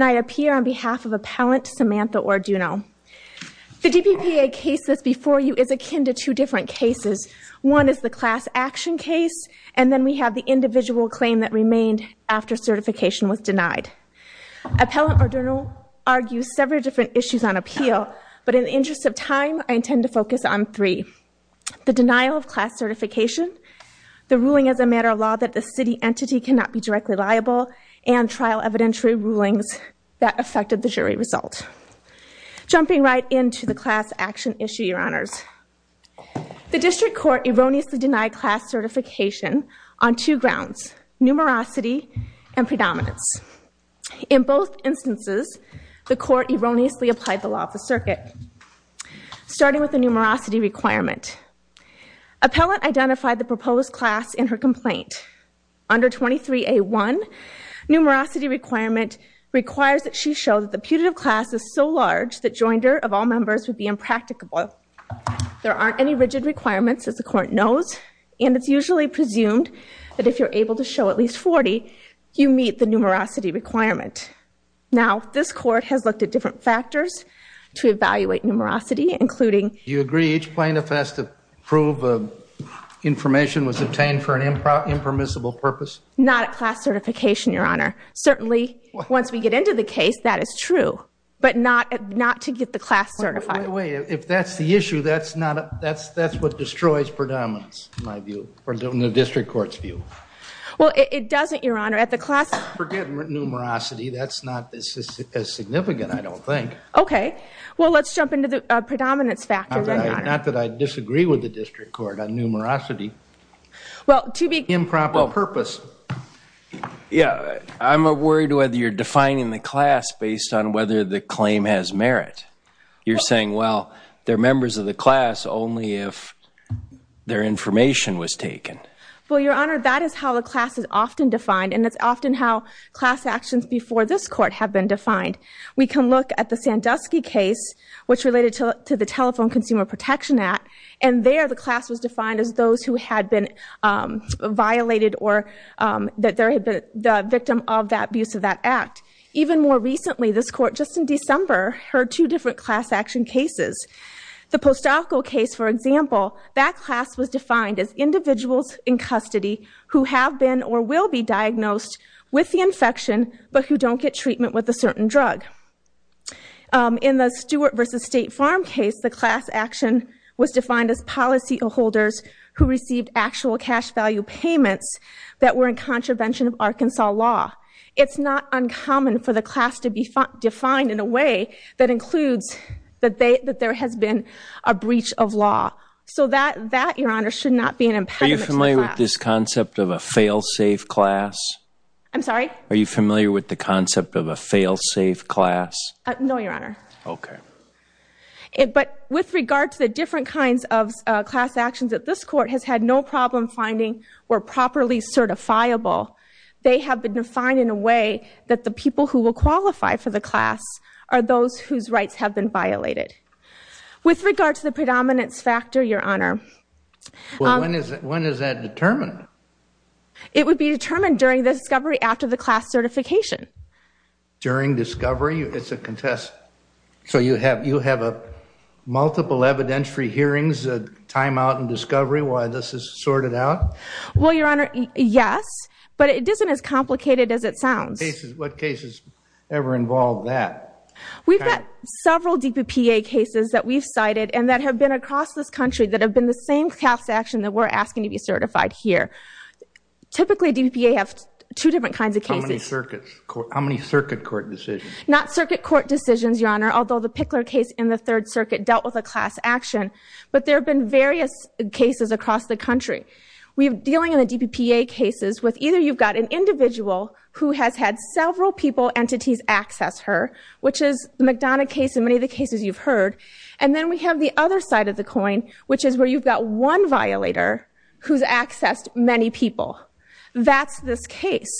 I appear on behalf of Appellant Samantha Orduno. The DPPA case that's before you is akin to two different cases. One is the class action case and then we have the individual claim that remained after certification was denied. Appellant Orduno argues several different issues on appeal, but in the interest of time I intend to focus on three. The denial of class certification, the ruling as a matter of law that the city entity cannot be directly liable, and trial evidentiary rulings that affected the jury result. Jumping right into the class action issue your honors. The district court erroneously denied class certification on two grounds, numerosity and predominance. In both instances the court erroneously applied the law of the circuit starting with the numerosity requirement. Appellant identified the proposed class in her complaint. Under 23A1, numerosity requirement requires that she show that the putative class is so large that joinder of all members would be impracticable. There aren't any rigid requirements as the court knows and it's usually presumed that if you're able to show at least 40 you meet the numerosity requirement. Now this court has looked at different factors to evaluate numerosity including... You agree each plaintiff has to prove information was obtained for an impermissible purpose? Not at class certification your honor. Certainly once we get into the case that is true, but not to get the class certified. Wait, if that's the issue that's what destroys predominance in my view, in the district court's view. Well it doesn't your honor. Forget numerosity, that's not as significant I don't think. Okay, well let's jump into the predominance factor. Not that I disagree with the district court on numerosity. Well to be... Improper purpose. Yeah, I'm worried whether you're defining the class based on whether the claim has merit. You're saying well they're members of the class only if their information was taken. Well your honor that is how the class is often defined and it's often how class actions before this court have been defined. We can look at the Sandusky case which related to the Telephone Consumer Protection Act and there the class was defined as those who had been violated or that there had been the victim of that abuse of that act. Even more recently this court just in December heard two different class action cases. The Postalco case for example, that class was defined as individuals in custody who have been or will be diagnosed with the infection but who don't get treatment with a certain drug. In the Stewart versus State Farm case, the class action was defined as policyholders who received actual cash value payments that were in contravention of Arkansas law. It's not uncommon for the class to be defined in a way that includes that there has been a breach of law. So that your honor should not be an impediment to the class. Are you familiar with this concept of a fail-safe class? I'm sorry? Are you familiar with the concept of a fail-safe class? No your honor. Okay. But with regard to the different kinds of class actions that this court has had no problem finding were properly certifiable. They have been defined in a way that the people who will qualify for the class are those whose rights have been violated. With regard to the predominance your honor. When is that determined? It would be determined during the discovery after the class certification. During discovery? It's a contest. So you have you have a multiple evidentiary hearings, a time out in discovery while this is sorted out? Well your honor, yes. But it isn't as complicated as it sounds. What cases ever involve that? We've got DPPA cases that we've cited and that have been across this country that have been the same class action that we're asking to be certified here. Typically DPPA have two different kinds of cases. How many circuits? How many circuit court decisions? Not circuit court decisions your honor. Although the Pickler case in the third circuit dealt with a class action. But there have been various cases across the country. We're dealing in the DPPA cases with either you've got an individual who has had several people entities access her, which is the McDonough case and many of the cases you've heard. And then we have the other side of the coin which is where you've got one violator who's accessed many people. That's this case.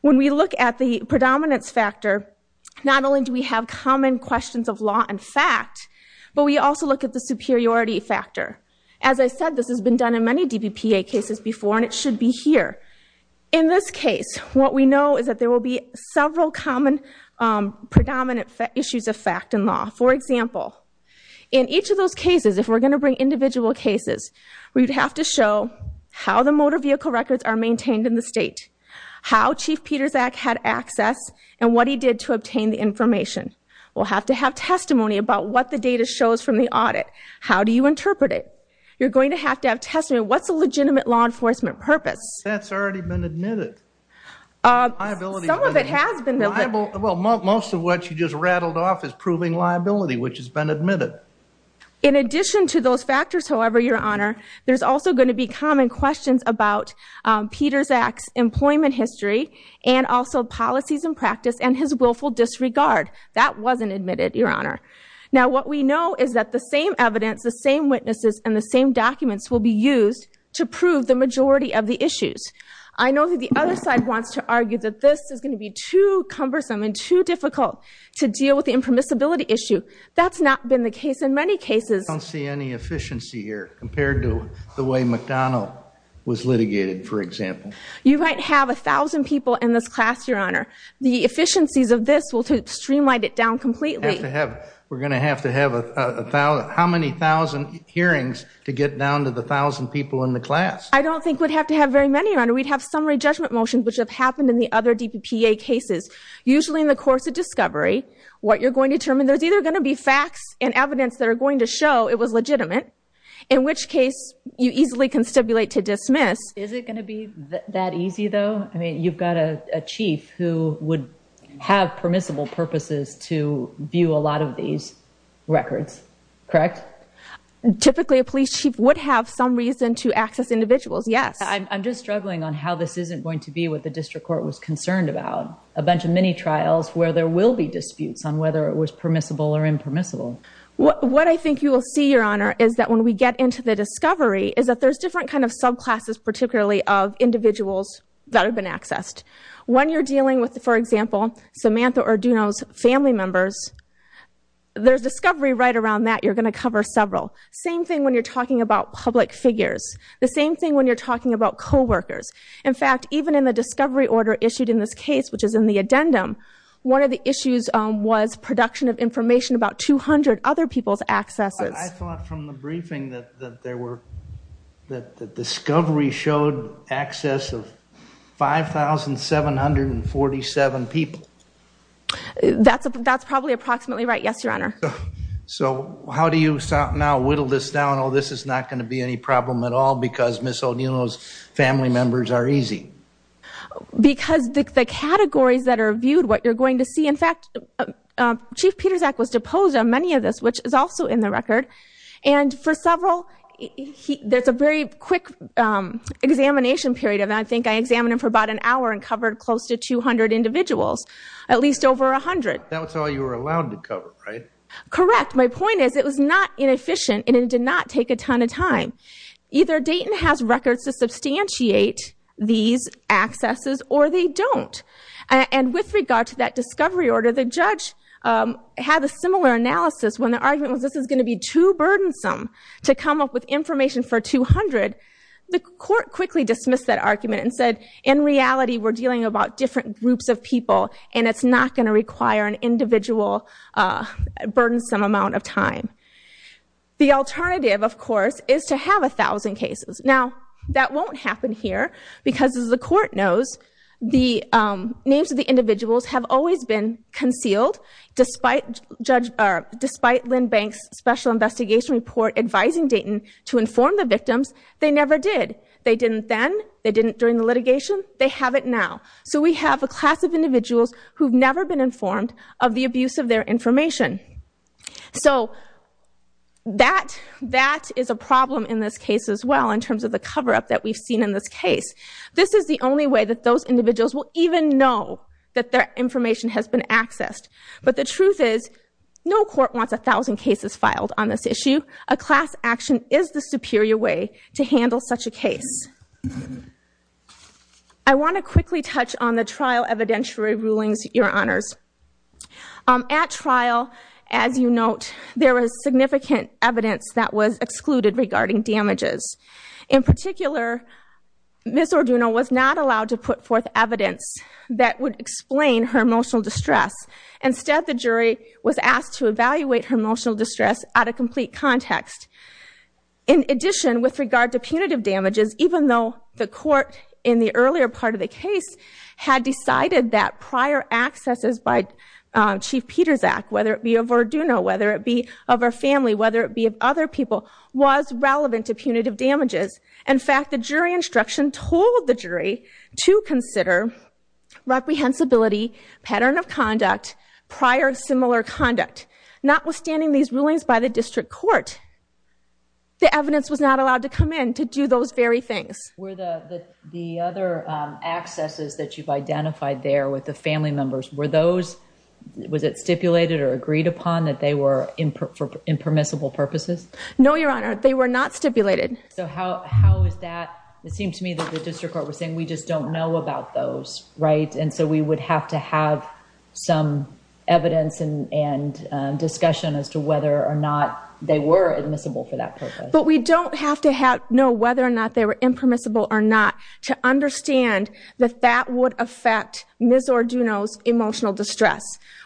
When we look at the predominance factor not only do we have common questions of law and fact, but we also look at the superiority factor. As I said this has been done in many DPPA cases before and it should be here. In this case what we know is that there will be several common predominant issues of fact and law. For example, in each of those cases if we're going to bring individual cases we'd have to show how the motor vehicle records are maintained in the state. How Chief Peterzak had access and what he did to obtain the information. We'll have to have testimony about what the data shows from the audit. How do you interpret it? You're going to have to have testimony. What's a legitimate law enforcement purpose? That's already been admitted. Some of it has been admitted. Well most of what you just rattled off is proving liability which has been admitted. In addition to those factors however, Your Honor, there's also going to be common questions about Peterzak's employment history and also policies and practice and his willful disregard. That wasn't admitted, Your Honor. Now what we know is that the same evidence, the same witnesses, and the same documents will be used to prove the majority of the issues. I know that the other side wants to argue that this is going to be too cumbersome and too difficult to deal with the impermissibility issue. That's not been the case in many cases. I don't see any efficiency here compared to the way McDonnell was litigated, for example. You might have a thousand people in this class, Your Honor. The efficiencies of this streamline it down completely. We're going to have to have a thousand, how many thousand hearings to get down to the thousand people in the class? I don't think we'd have to have very many, Your Honor. We'd have summary judgment motions which have happened in the other DPPA cases. Usually in the course of discovery, what you're going to determine, there's either going to be facts and evidence that are going to show it was legitimate, in which case you easily can stipulate to dismiss. Is it going to be that easy though? I mean you've got a chief who would have permissible purposes to view a lot of these records, correct? Typically a police chief would have some reason to access individuals, yes. I'm just struggling on how this isn't going to be what the district court was concerned about. A bunch of mini trials where there will be disputes on whether it was permissible or impermissible. What I think you will see, Your Honor, is that when we get into the discovery is that there's different kind of subclasses, particularly of example, Samantha Orduno's family members, there's discovery right around that. You're going to cover several. Same thing when you're talking about public figures. The same thing when you're talking about co-workers. In fact, even in the discovery order issued in this case, which is in the addendum, one of the issues was production of information about 200 other people's accesses. I thought from the briefing that the discovery showed access of 5,747 people. That's probably approximately right. Yes, Your Honor. So how do you now whittle this down? Oh, this is not going to be any problem at all because Ms. Orduno's family members are easy. Because the categories that are viewed, what you're going to And for several, there's a very quick examination period. I think I examined him for about an hour and covered close to 200 individuals, at least over 100. That's all you were allowed to cover, right? Correct. My point is it was not inefficient and it did not take a ton of time. Either Dayton has records to substantiate these accesses or they don't. And with regard to that discovery order, the judge had a similar analysis when the argument was this is going to be too burdensome to come up with information for 200. The court quickly dismissed that argument and said, in reality, we're dealing about different groups of people and it's not going to require an individual burdensome amount of time. The alternative, of course, is to have a thousand cases. Now, that won't happen here because, as the court knows, the names of the individuals have always been concealed. Despite Lynn Banks' special investigation report advising Dayton to inform the victims, they never did. They didn't then. They didn't during the litigation. They have it now. So we have a class of individuals who've never been informed of the abuse of their information. So that is a problem in this case as well, in terms of the cover-up that we've seen in this case. This is the only way that those individuals will even know that their information has been accessed. But the truth is, no court wants a thousand cases filed on this issue. A class action is the superior way to handle such a case. I want to quickly touch on the trial evidentiary rulings, Your Honors. At trial, as you note, there was significant evidence that was excluded regarding damages. In particular, Ms. Orduno was not allowed to put forth evidence that would explain her emotional distress. Instead, the jury was asked to evaluate her emotional distress out of complete context. In addition, with regard to punitive damages, even though the court in the earlier part of the case had decided that prior accesses by Chief Peterzak, whether it be of Orduno, whether it be of her instruction, told the jury to consider reprehensibility, pattern of conduct, prior similar conduct. Notwithstanding these rulings by the district court, the evidence was not allowed to come in to do those very things. Were the other accesses that you've identified there with the family members, were those, was it stipulated or agreed upon that they were for impermissible purposes? No, Your Honor. They were not stipulated. So how is that? It seemed to me that the district court was saying, we just don't know about those, right? And so we would have to have some evidence and discussion as to whether or not they were admissible for that purpose. But we don't have to know whether or not they were impermissible or not to understand that that would affect Ms. Orduno's emotional distress.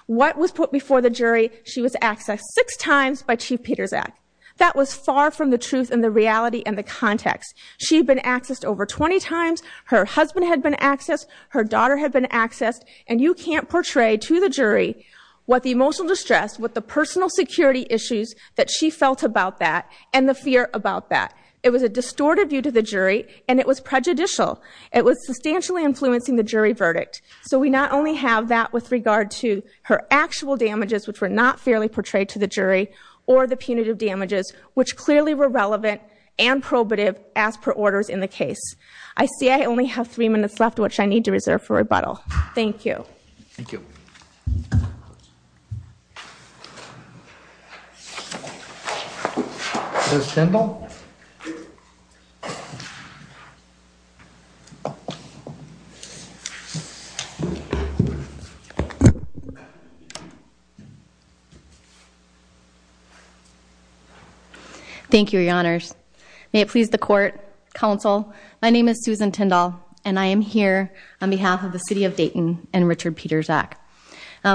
What was put before the jury, she was accessed six times by Chief Peterzak. That was far from the truth and the reality and the context. She'd been accessed over 20 times. Her husband had been accessed. Her daughter had been accessed. And you can't portray to the jury what the emotional distress, what the personal security issues that she felt about that, and the fear about that. It was a distorted view to the jury, and it was prejudicial. It was substantially influencing the jury verdict. So we not only have that with regard to her actual damages, which were not fairly portrayed to the jury, or the punitive damages, which clearly were relevant and probative as per orders in the case. I see I only have three minutes left, which I need to reserve for rebuttal. Thank you. Thank you. Ms. Kendall? Thank you, Your Honors. May it please the court, counsel. My name is Susan Kendall, and I am here on behalf of the City of Dayton and Richard Peterzak.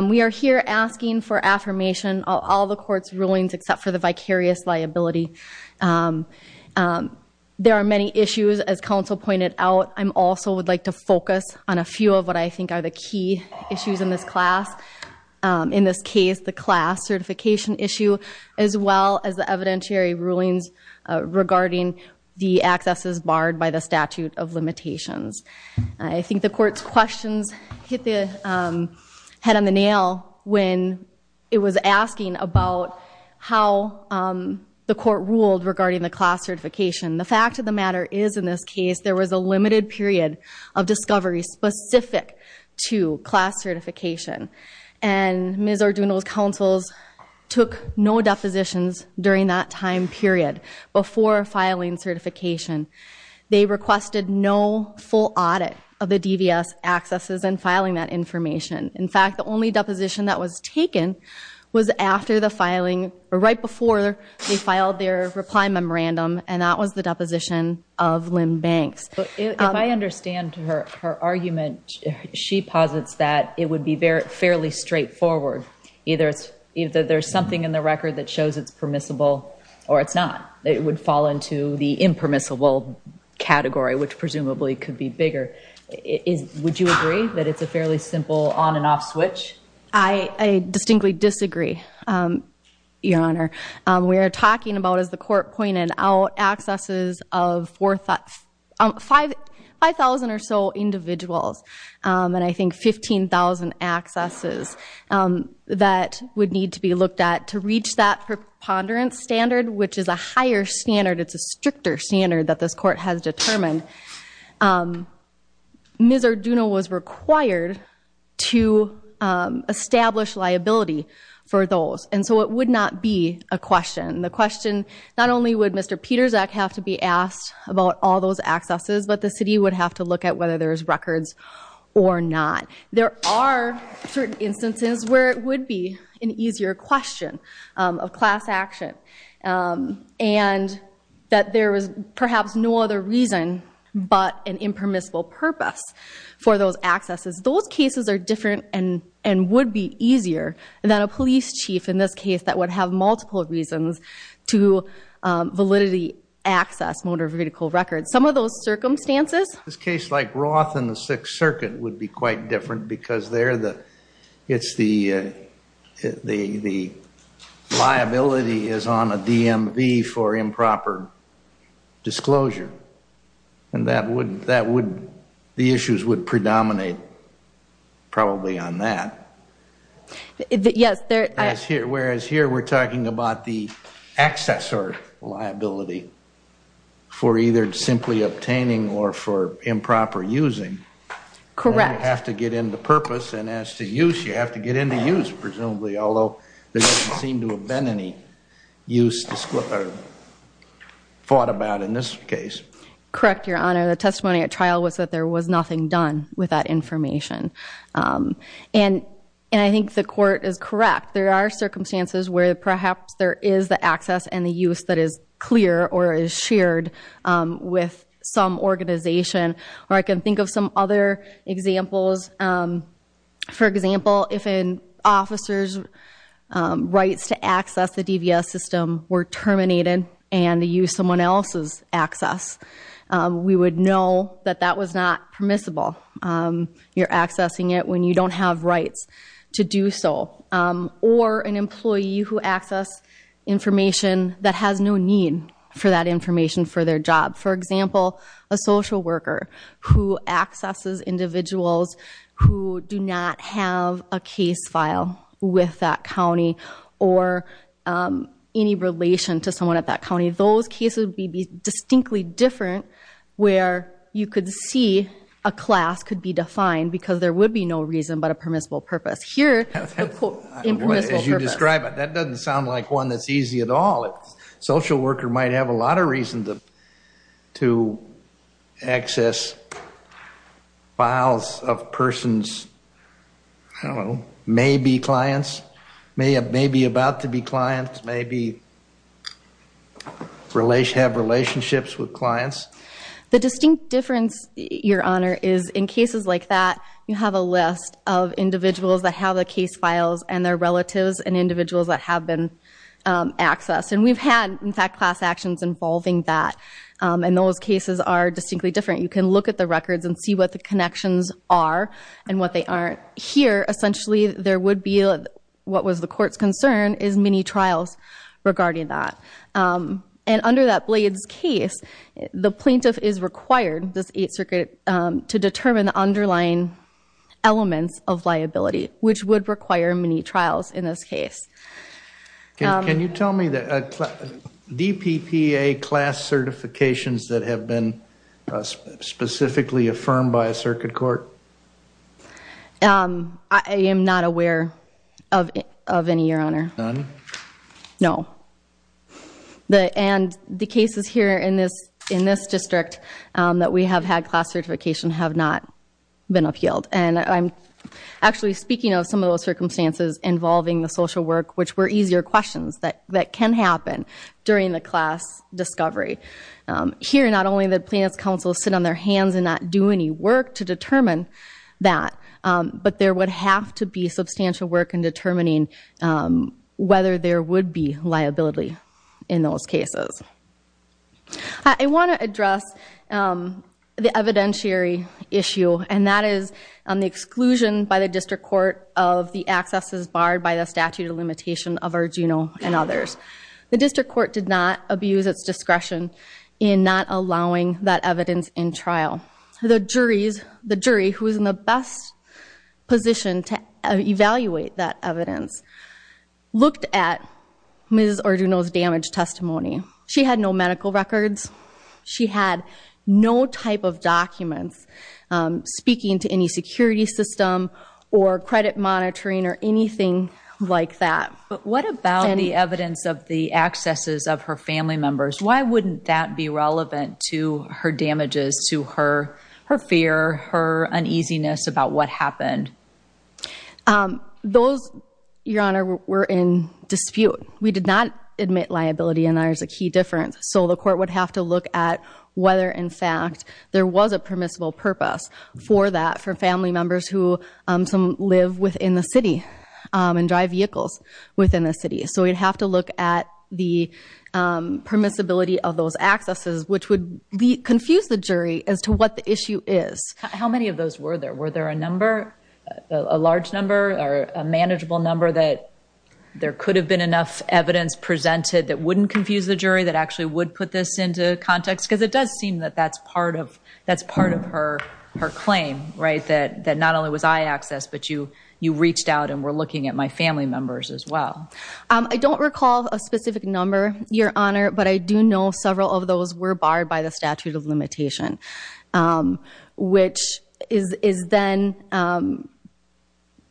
We are here asking for affirmation of all the court's rulings except for the vicarious liability. There are many issues, as counsel pointed out. I'm also would like to focus on a few of what I think are the key issues in this class, in this case, the class certification issue, as well as the evidentiary rulings regarding the accesses barred by the statute of limitations. I think the court's questions hit the head on the nail when it was asking about how the court ruled regarding the class certification. The fact of the matter is, in this case, there was a limited period of discovery specific to class certification. Ms. Arduno's counsels took no depositions during that time period before filing certification. They requested no full audit of the DVS accesses and filing that information. In fact, the only deposition that was taken was right before they filed their reply memorandum, and that was the deposition of Lynn Banks. If I understand her argument, she posits that it would be fairly straightforward. Either there's something in the record that shows it's permissible or it's not. It would fall into the impermissible category, which presumably could be bigger. Would you agree that it's a fairly simple on and off switch? I distinctly disagree, Your Honor. We are talking about, as the court pointed out, accesses of 5,000 or so individuals, and I think 15,000 accesses that would need to be looked at to reach that preponderance standard, which is a higher standard. It's a stricter standard that this court has determined. Ms. Arduno was required to establish liability for those, and so it would not be a question. The question, not only would Mr. Pietrzak have to be asked about all those accesses, but the city would have to look at whether there's records or not. There are certain instances where it would be an easier question of class action, and that there was perhaps no other reason but an impermissible purpose for those accesses. Those cases are different and would be easier than a police chief, in this case, that would have multiple reasons to validity access motor vehicle records. Some of those circumstances... This case like Roth and the Sixth Circuit would be quite different, because it's the liability is on a DMV for improper disclosure, and the issues would predominate probably on that. Yes. Whereas here, we're talking about the access or liability for either simply obtaining or for improper using. Correct. You have to get into purpose, and as to use, you have to get into use, presumably, although there doesn't seem to have been any use or thought about in this case. Correct, Your Honor. The testimony at trial was that there was nothing done with that information, and I think the court is correct. There are circumstances where perhaps there is the access and the use that is clear or is shared with some organization, or I can think of some other examples. For example, if an officer's rights to access the DVS system were terminated and to use someone else's access, we would know that that was not permissible. You're accessing it when you don't have rights to do so, or an employee who access information that has no need for that information for their job. For example, a social worker who accesses individuals who do not have a case file with that county or any relation to someone at that county. Those cases would be distinctly different where you could see a class could be defined because there would be no reason but a permissible purpose. Here, the quote, impermissible purpose. As you describe it, that doesn't sound like one that's easy at all. Social worker might have a lot of reasons to access files of persons, I don't know, maybe clients, maybe about to be clients, maybe have relationships with clients. The distinct difference, Your Honor, is in cases like that, you have a list of individuals that have the case files and their relatives and individuals that have been accessed, and we've had, in fact, class actions involving that, and those cases are distinctly different. You can look at the records and see what the connections are and what they aren't. Here, essentially, there would be, what was the court's concern, is many trials regarding that. Under that Blades case, the plaintiff is required, this Eighth Circuit, to determine the underlying elements of liability, which would require many trials in this case. Can you tell me the DPPA class certifications that have been specifically affirmed by a circuit court? I am not aware of any, Your Honor. None? No. And the cases here in this district that we have had class certification have not been appealed. And I'm actually speaking of some of those circumstances involving the social work, which were easier questions that can happen during the class discovery. Here, not only did plaintiff's counsel sit on their hands and not do any work to determine that, but there would have to be substantial work in determining whether there would be liability in those cases. I want to address the evidentiary issue, and that is the exclusion by the district court of the accesses barred by the statute of limitation of Arduino and others. The district court did not abuse its discretion in not allowing that evidence in trial. The jury, who is in the best position to evaluate that evidence, looked at Ms. Arduino's damage testimony. She had no medical records. She had no type of documents. Speaking to any security system or credit monitoring or anything like that. But what about the evidence of the accesses of her family members? Why wouldn't that be relevant to her damages, to her fear, her uneasiness about what happened? Those, Your Honor, were in dispute. We did not admit liability, and that is a key difference. So the court would have to look at whether, in fact, there was a permissible purpose for that, for family members who live within the city and drive vehicles within the city. So we'd have to look at the permissibility of those accesses, which would confuse the jury as to what the issue is. How many of those were there? Were there a number, a large number or a manageable number that there could have been enough evidence presented that wouldn't confuse the jury, that actually would put this into context? Because it does seem that that's part of her claim, right? That not only was I accessed, but you reached out and were looking at my family members as well. I don't recall a specific number, Your Honor, but I do know several of those were barred by the statute of limitation, which is then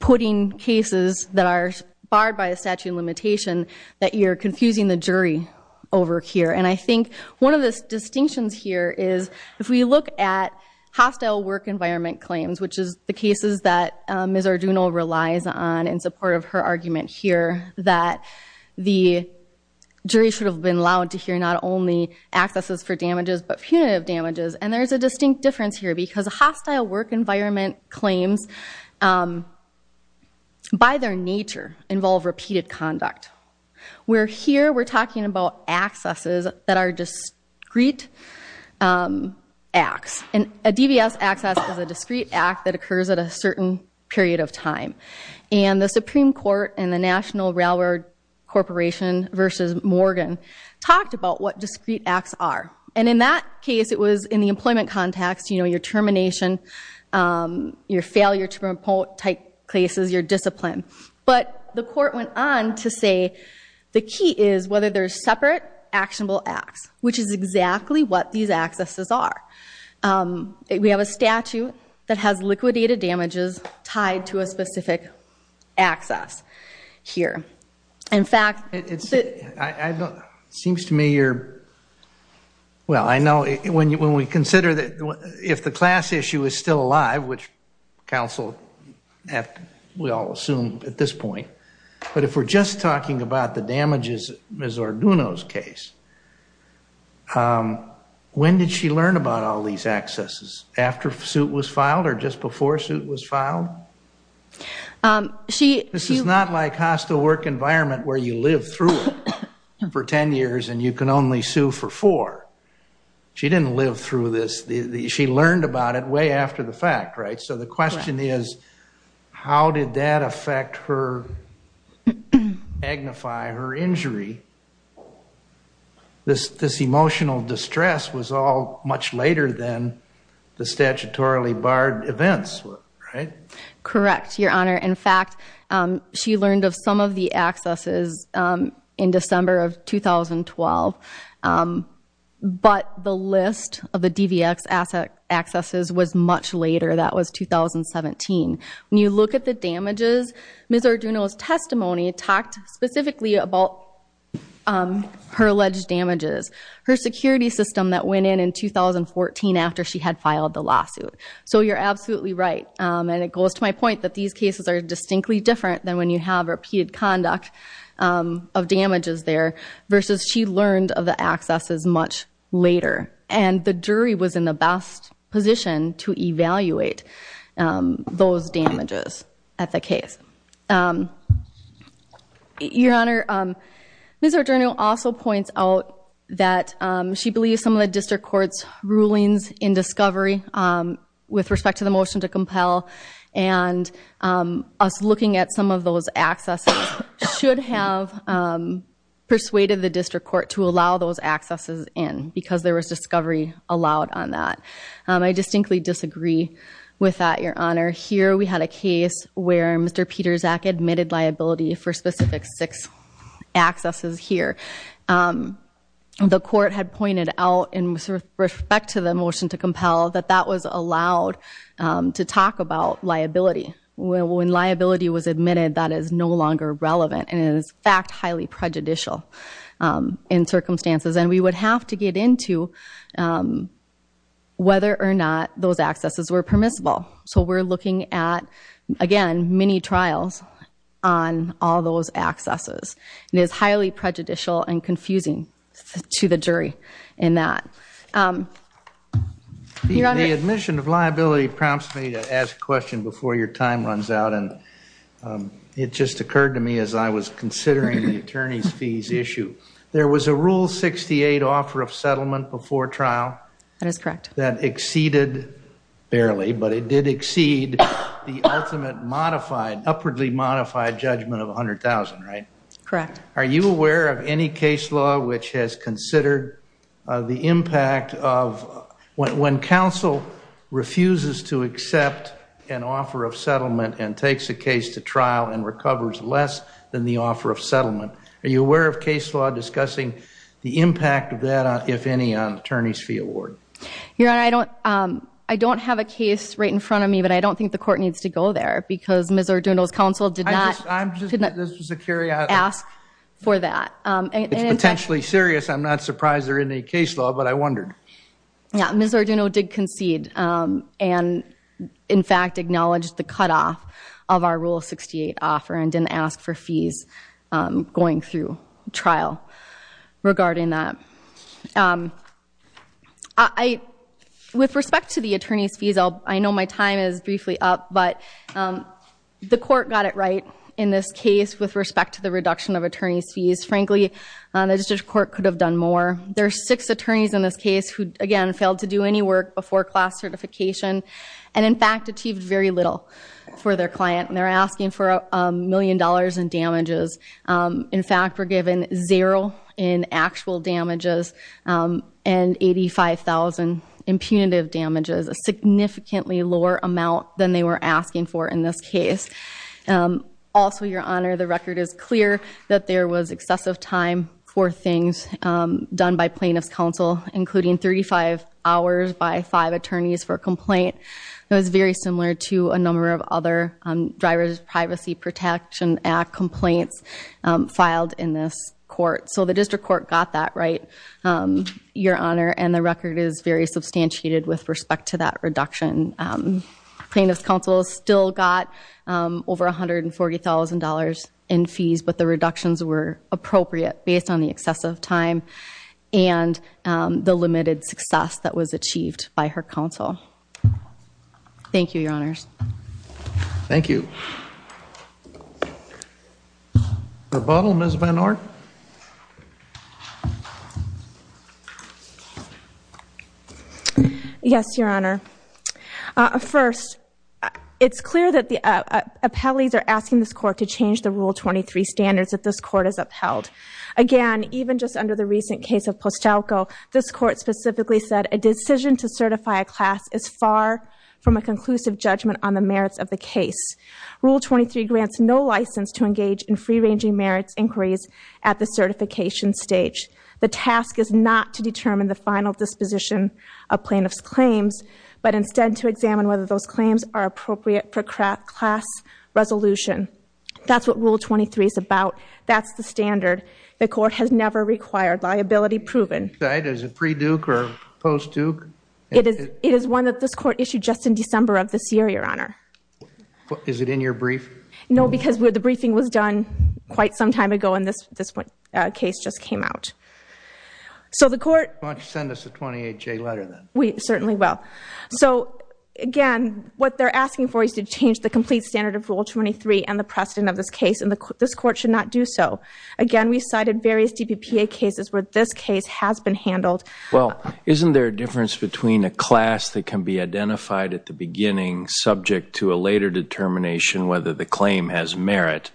putting cases that are barred by the statute of limitation that you're confusing the jury over here. And I think one of the distinctions here is if we look at hostile work environment claims, which is the cases that Ms. Arduno relies on in support of her argument here, that the jury should have been allowed to hear not only accesses for damages, but punitive damages. And there's a distinct difference here because hostile work environment claims, by their nature, involve repeated conduct. Where here, we're talking about accesses that are discrete acts. And a DVS access is a discrete act that occurs at a certain period of time. And the Supreme Court and the National Railroad Corporation versus Morgan talked about what discrete acts are. And in that case, it was in the employment context, you know, your termination, your failure to promote type cases, your discipline. But the court went on to say, the key is whether there's separate actionable acts, which is exactly what these accesses are. We have a statute that has liquidated damages tied to a specific access here. In fact, it seems to me you're... Well, I know when we consider that if the class issue is still alive, which counsel, we all assume at this point. But if we're just talking about the damages, Ms. Arduno's case, when did she learn about all these accesses? After suit was filed or just before suit was filed? This is not like hostile work environment where you live through it for 10 years and you can only sue for four. She didn't live through this. She learned about it way after the fact, so the question is, how did that affect her, magnify her injury? This emotional distress was all much later than the statutorily barred events, right? Correct, Your Honor. In fact, she learned of some of the accesses in December of 2012, but the list of the DVX accesses was much later. That was 2017. When you look at the damages, Ms. Arduno's testimony talked specifically about her alleged damages, her security system that went in in 2014 after she had filed the lawsuit. So you're absolutely right. And it goes to my point that these cases are distinctly different than when you have repeated conduct of damages there versus she learned of the accesses much later. And the jury was in the best position to evaluate those damages at the case. Your Honor, Ms. Arduno also points out that she believes some of the district court's rulings in discovery with respect to the motion to compel and us looking at some of those accesses should have persuaded the district court to allow those accesses in because there was discovery allowed on that. I distinctly disagree with that, Your Honor. Here, we had a case where Mr. Pietrzak admitted liability for specific six accesses here. The court had pointed out in respect to the motion to compel that that was allowed to talk about liability. When liability was admitted, that is no longer relevant and is in fact highly prejudicial in circumstances. And we would have to get into whether or not those accesses were permissible. So we're looking at, again, many trials on all those accesses. It is highly prejudicial and confusing to the jury in that. The admission of liability prompts me to ask a question before your time runs out. And it just occurred to me as I was considering the attorney's fees issue. There was a Rule 68 offer of settlement before trial. That is correct. That exceeded, barely, but it did exceed the ultimate modified, upwardly modified judgment of $100,000, right? Correct. Are you aware of any case law which has considered the impact of, when counsel refuses to accept an offer of settlement and takes a case to trial and recovers less than the offer of settlement, are you aware of case law discussing the impact of that, if any, on attorney's fee award? I don't have a case right in front of me, but I don't think the court needs to go there because Ms. Arduno's counsel did not ask for that. It's potentially serious. I'm not surprised there isn't any case law, but I wondered. Yeah, Ms. Arduno did concede and in fact acknowledged the cutoff of our Rule 68 offer and didn't ask for fees going through trial regarding that. With respect to the attorney's fees, I know my time is briefly up, but the court got it right in this case with respect to the reduction of attorney's fees. Frankly, the district court could have done more. There are six attorneys in this case who, again, failed to do any work before class certification and in fact achieved very little for their client. They're asking for a million dollars in damages. In fact, we're given zero in actual damages and 85,000 in punitive damages, a significantly lower amount than they were asking for in this case. Also, Your Honor, the record is clear that there was excessive time for things done by plaintiff's counsel, including 35 hours by five attorneys for a complaint. It was very similar to a number of other Drivers Privacy Protection Act complaints filed in this court. So the district court got that right, Your Honor, and the record is very substantiated with respect to that reduction. Plaintiff's counsel still got over $140,000 in fees, but the reductions were appropriate based on the excessive time and the limited success that was achieved by her counsel. Thank you, Your Honors. Thank you. Rebuttal, Ms. Van Orn. Yes, Your Honor. First, it's clear that the appellees are asking this court to change the Rule 23 standards if this court is upheld. Again, even just under the recent case of Postalco, this court specifically said a decision to certify a class is far from a conclusive judgment on the merits of the case. Rule 23 grants no license to engage in free-ranging merits inquiries at the certification stage. The task is not to determine the final disposition of plaintiff's claims, but instead to examine whether those claims are appropriate for class resolution. That's what Rule 23 is about. That's the standard. The court has never required liability proven. Is it pre-Duke or post-Duke? It is one that this court issued just in December of this year, Your Honor. Is it in your brief? No, because the briefing was done quite some time ago and this case just came out. So the court... Why don't you send us a 28-J letter then? We certainly will. So again, what they're asking for is to change the complete standard of Rule 23 and the precedent of this case, and this court should not do so. Again, we cited various DPPA cases where this case has been handled. Well, isn't there a difference between a class that can be identified at the beginning subject to a later determination whether the claim has merit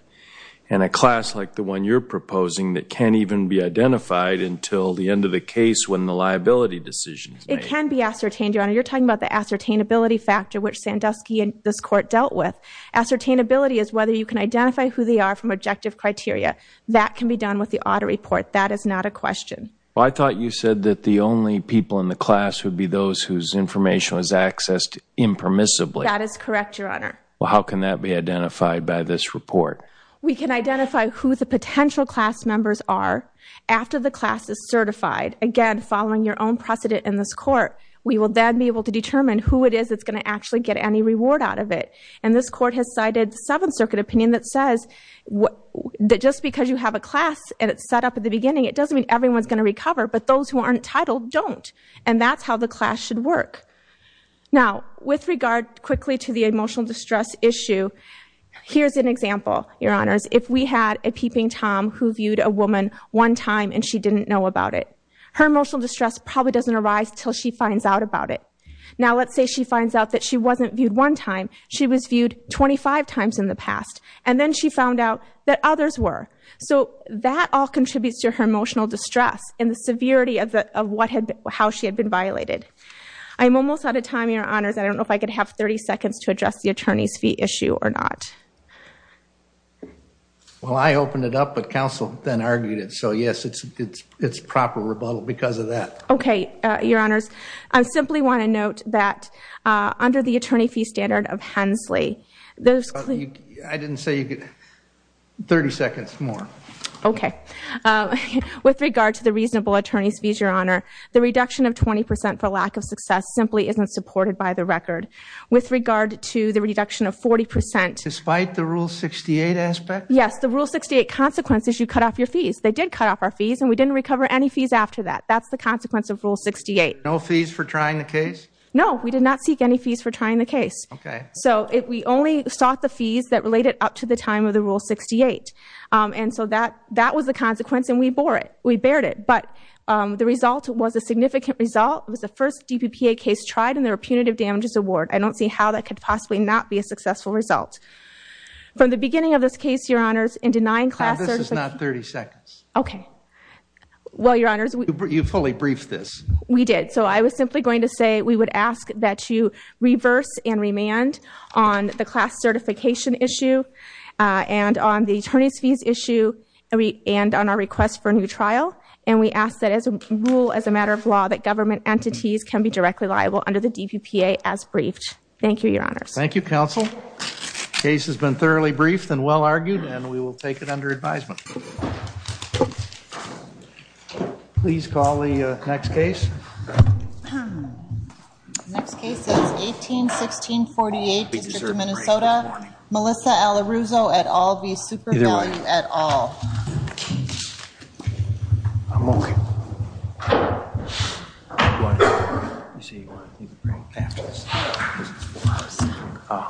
and a class like the one you're proposing that can't even be identified until the end of the case when the liability decision is made? It can be ascertained, Your Honor. You're talking about the ascertainability factor which Sandusky and this court dealt with. Ascertainability is whether you can identify who they are from objective criteria. That can be done with the audit report. That is not a question. Well, I thought you said that the only people in the class would be those whose information was accessed impermissibly. That is correct, Your Honor. Well, how can that be identified by this report? We can identify who the potential class members are after the class is certified. Again, following your own precedent in this court, we will then be able to determine who it is that's going to actually get any reward out of it. And this court has cited the Seventh Circuit opinion that says that just because you have a class and it's set up at the beginning, it doesn't mean everyone's going to recover. But those who aren't entitled don't. And that's how the class should work. Now, with regard quickly to the emotional distress issue, here's an example, Your Honors. If we had a peeping Tom who viewed a woman one time and she didn't know about it, her emotional distress probably doesn't arise until she finds out about it. Now, let's say she finds out that she wasn't viewed one time. She was viewed 25 times in the past. And then she found out that others were. So that all contributes to her emotional distress and the severity of how she had been violated. I'm almost out of time, Your Honors. I don't know if I could have 30 seconds to address the attorney's fee issue or not. Well, I opened it up, but counsel then argued it. So yes, it's proper rebuttal because of that. Okay, Your Honors. I simply want to note that under the attorney fee standard of Hensley, I didn't say you could... 30 seconds more. Okay. With regard to the reasonable attorney's fees, Your Honor, the reduction of 20% for lack of success simply isn't supported by the record. With regard to the reduction of 40%... Despite the Rule 68 aspect? Yes, the Rule 68 consequences, you cut off your fees. They did cut off our fees and we didn't recover any fees after that. That's the consequence of Rule 68. No fees for trying the case? No, we did not seek any fees for trying the case. Okay. So we only sought the fees that related up to the time of the Rule 68. And so that was the consequence and we bore it. We bared it. But the result was a significant result. It was the first DPPA case tried in their Punitive Damages Award. I don't see how that could possibly not be a successful result. From the beginning of this case, Your Honors, in denying class... This is not 30 seconds. Okay. Well, Your Honors... You fully briefed this. We did. So I was simply going to say we would ask that you reverse and remand on the class certification issue and on the attorney's fees issue and on our request for a new trial. And we ask that as a rule, as a matter of law, that government entities can be directly liable under the DPPA as briefed. Thank you, Your Honors. Thank you, Counsel. The case has been thoroughly briefed and well argued and we will take it under advisement. Please call the next case. The next case is 18-1648, District of Minnesota. Melissa Alaruzo et al v. Super Value et al.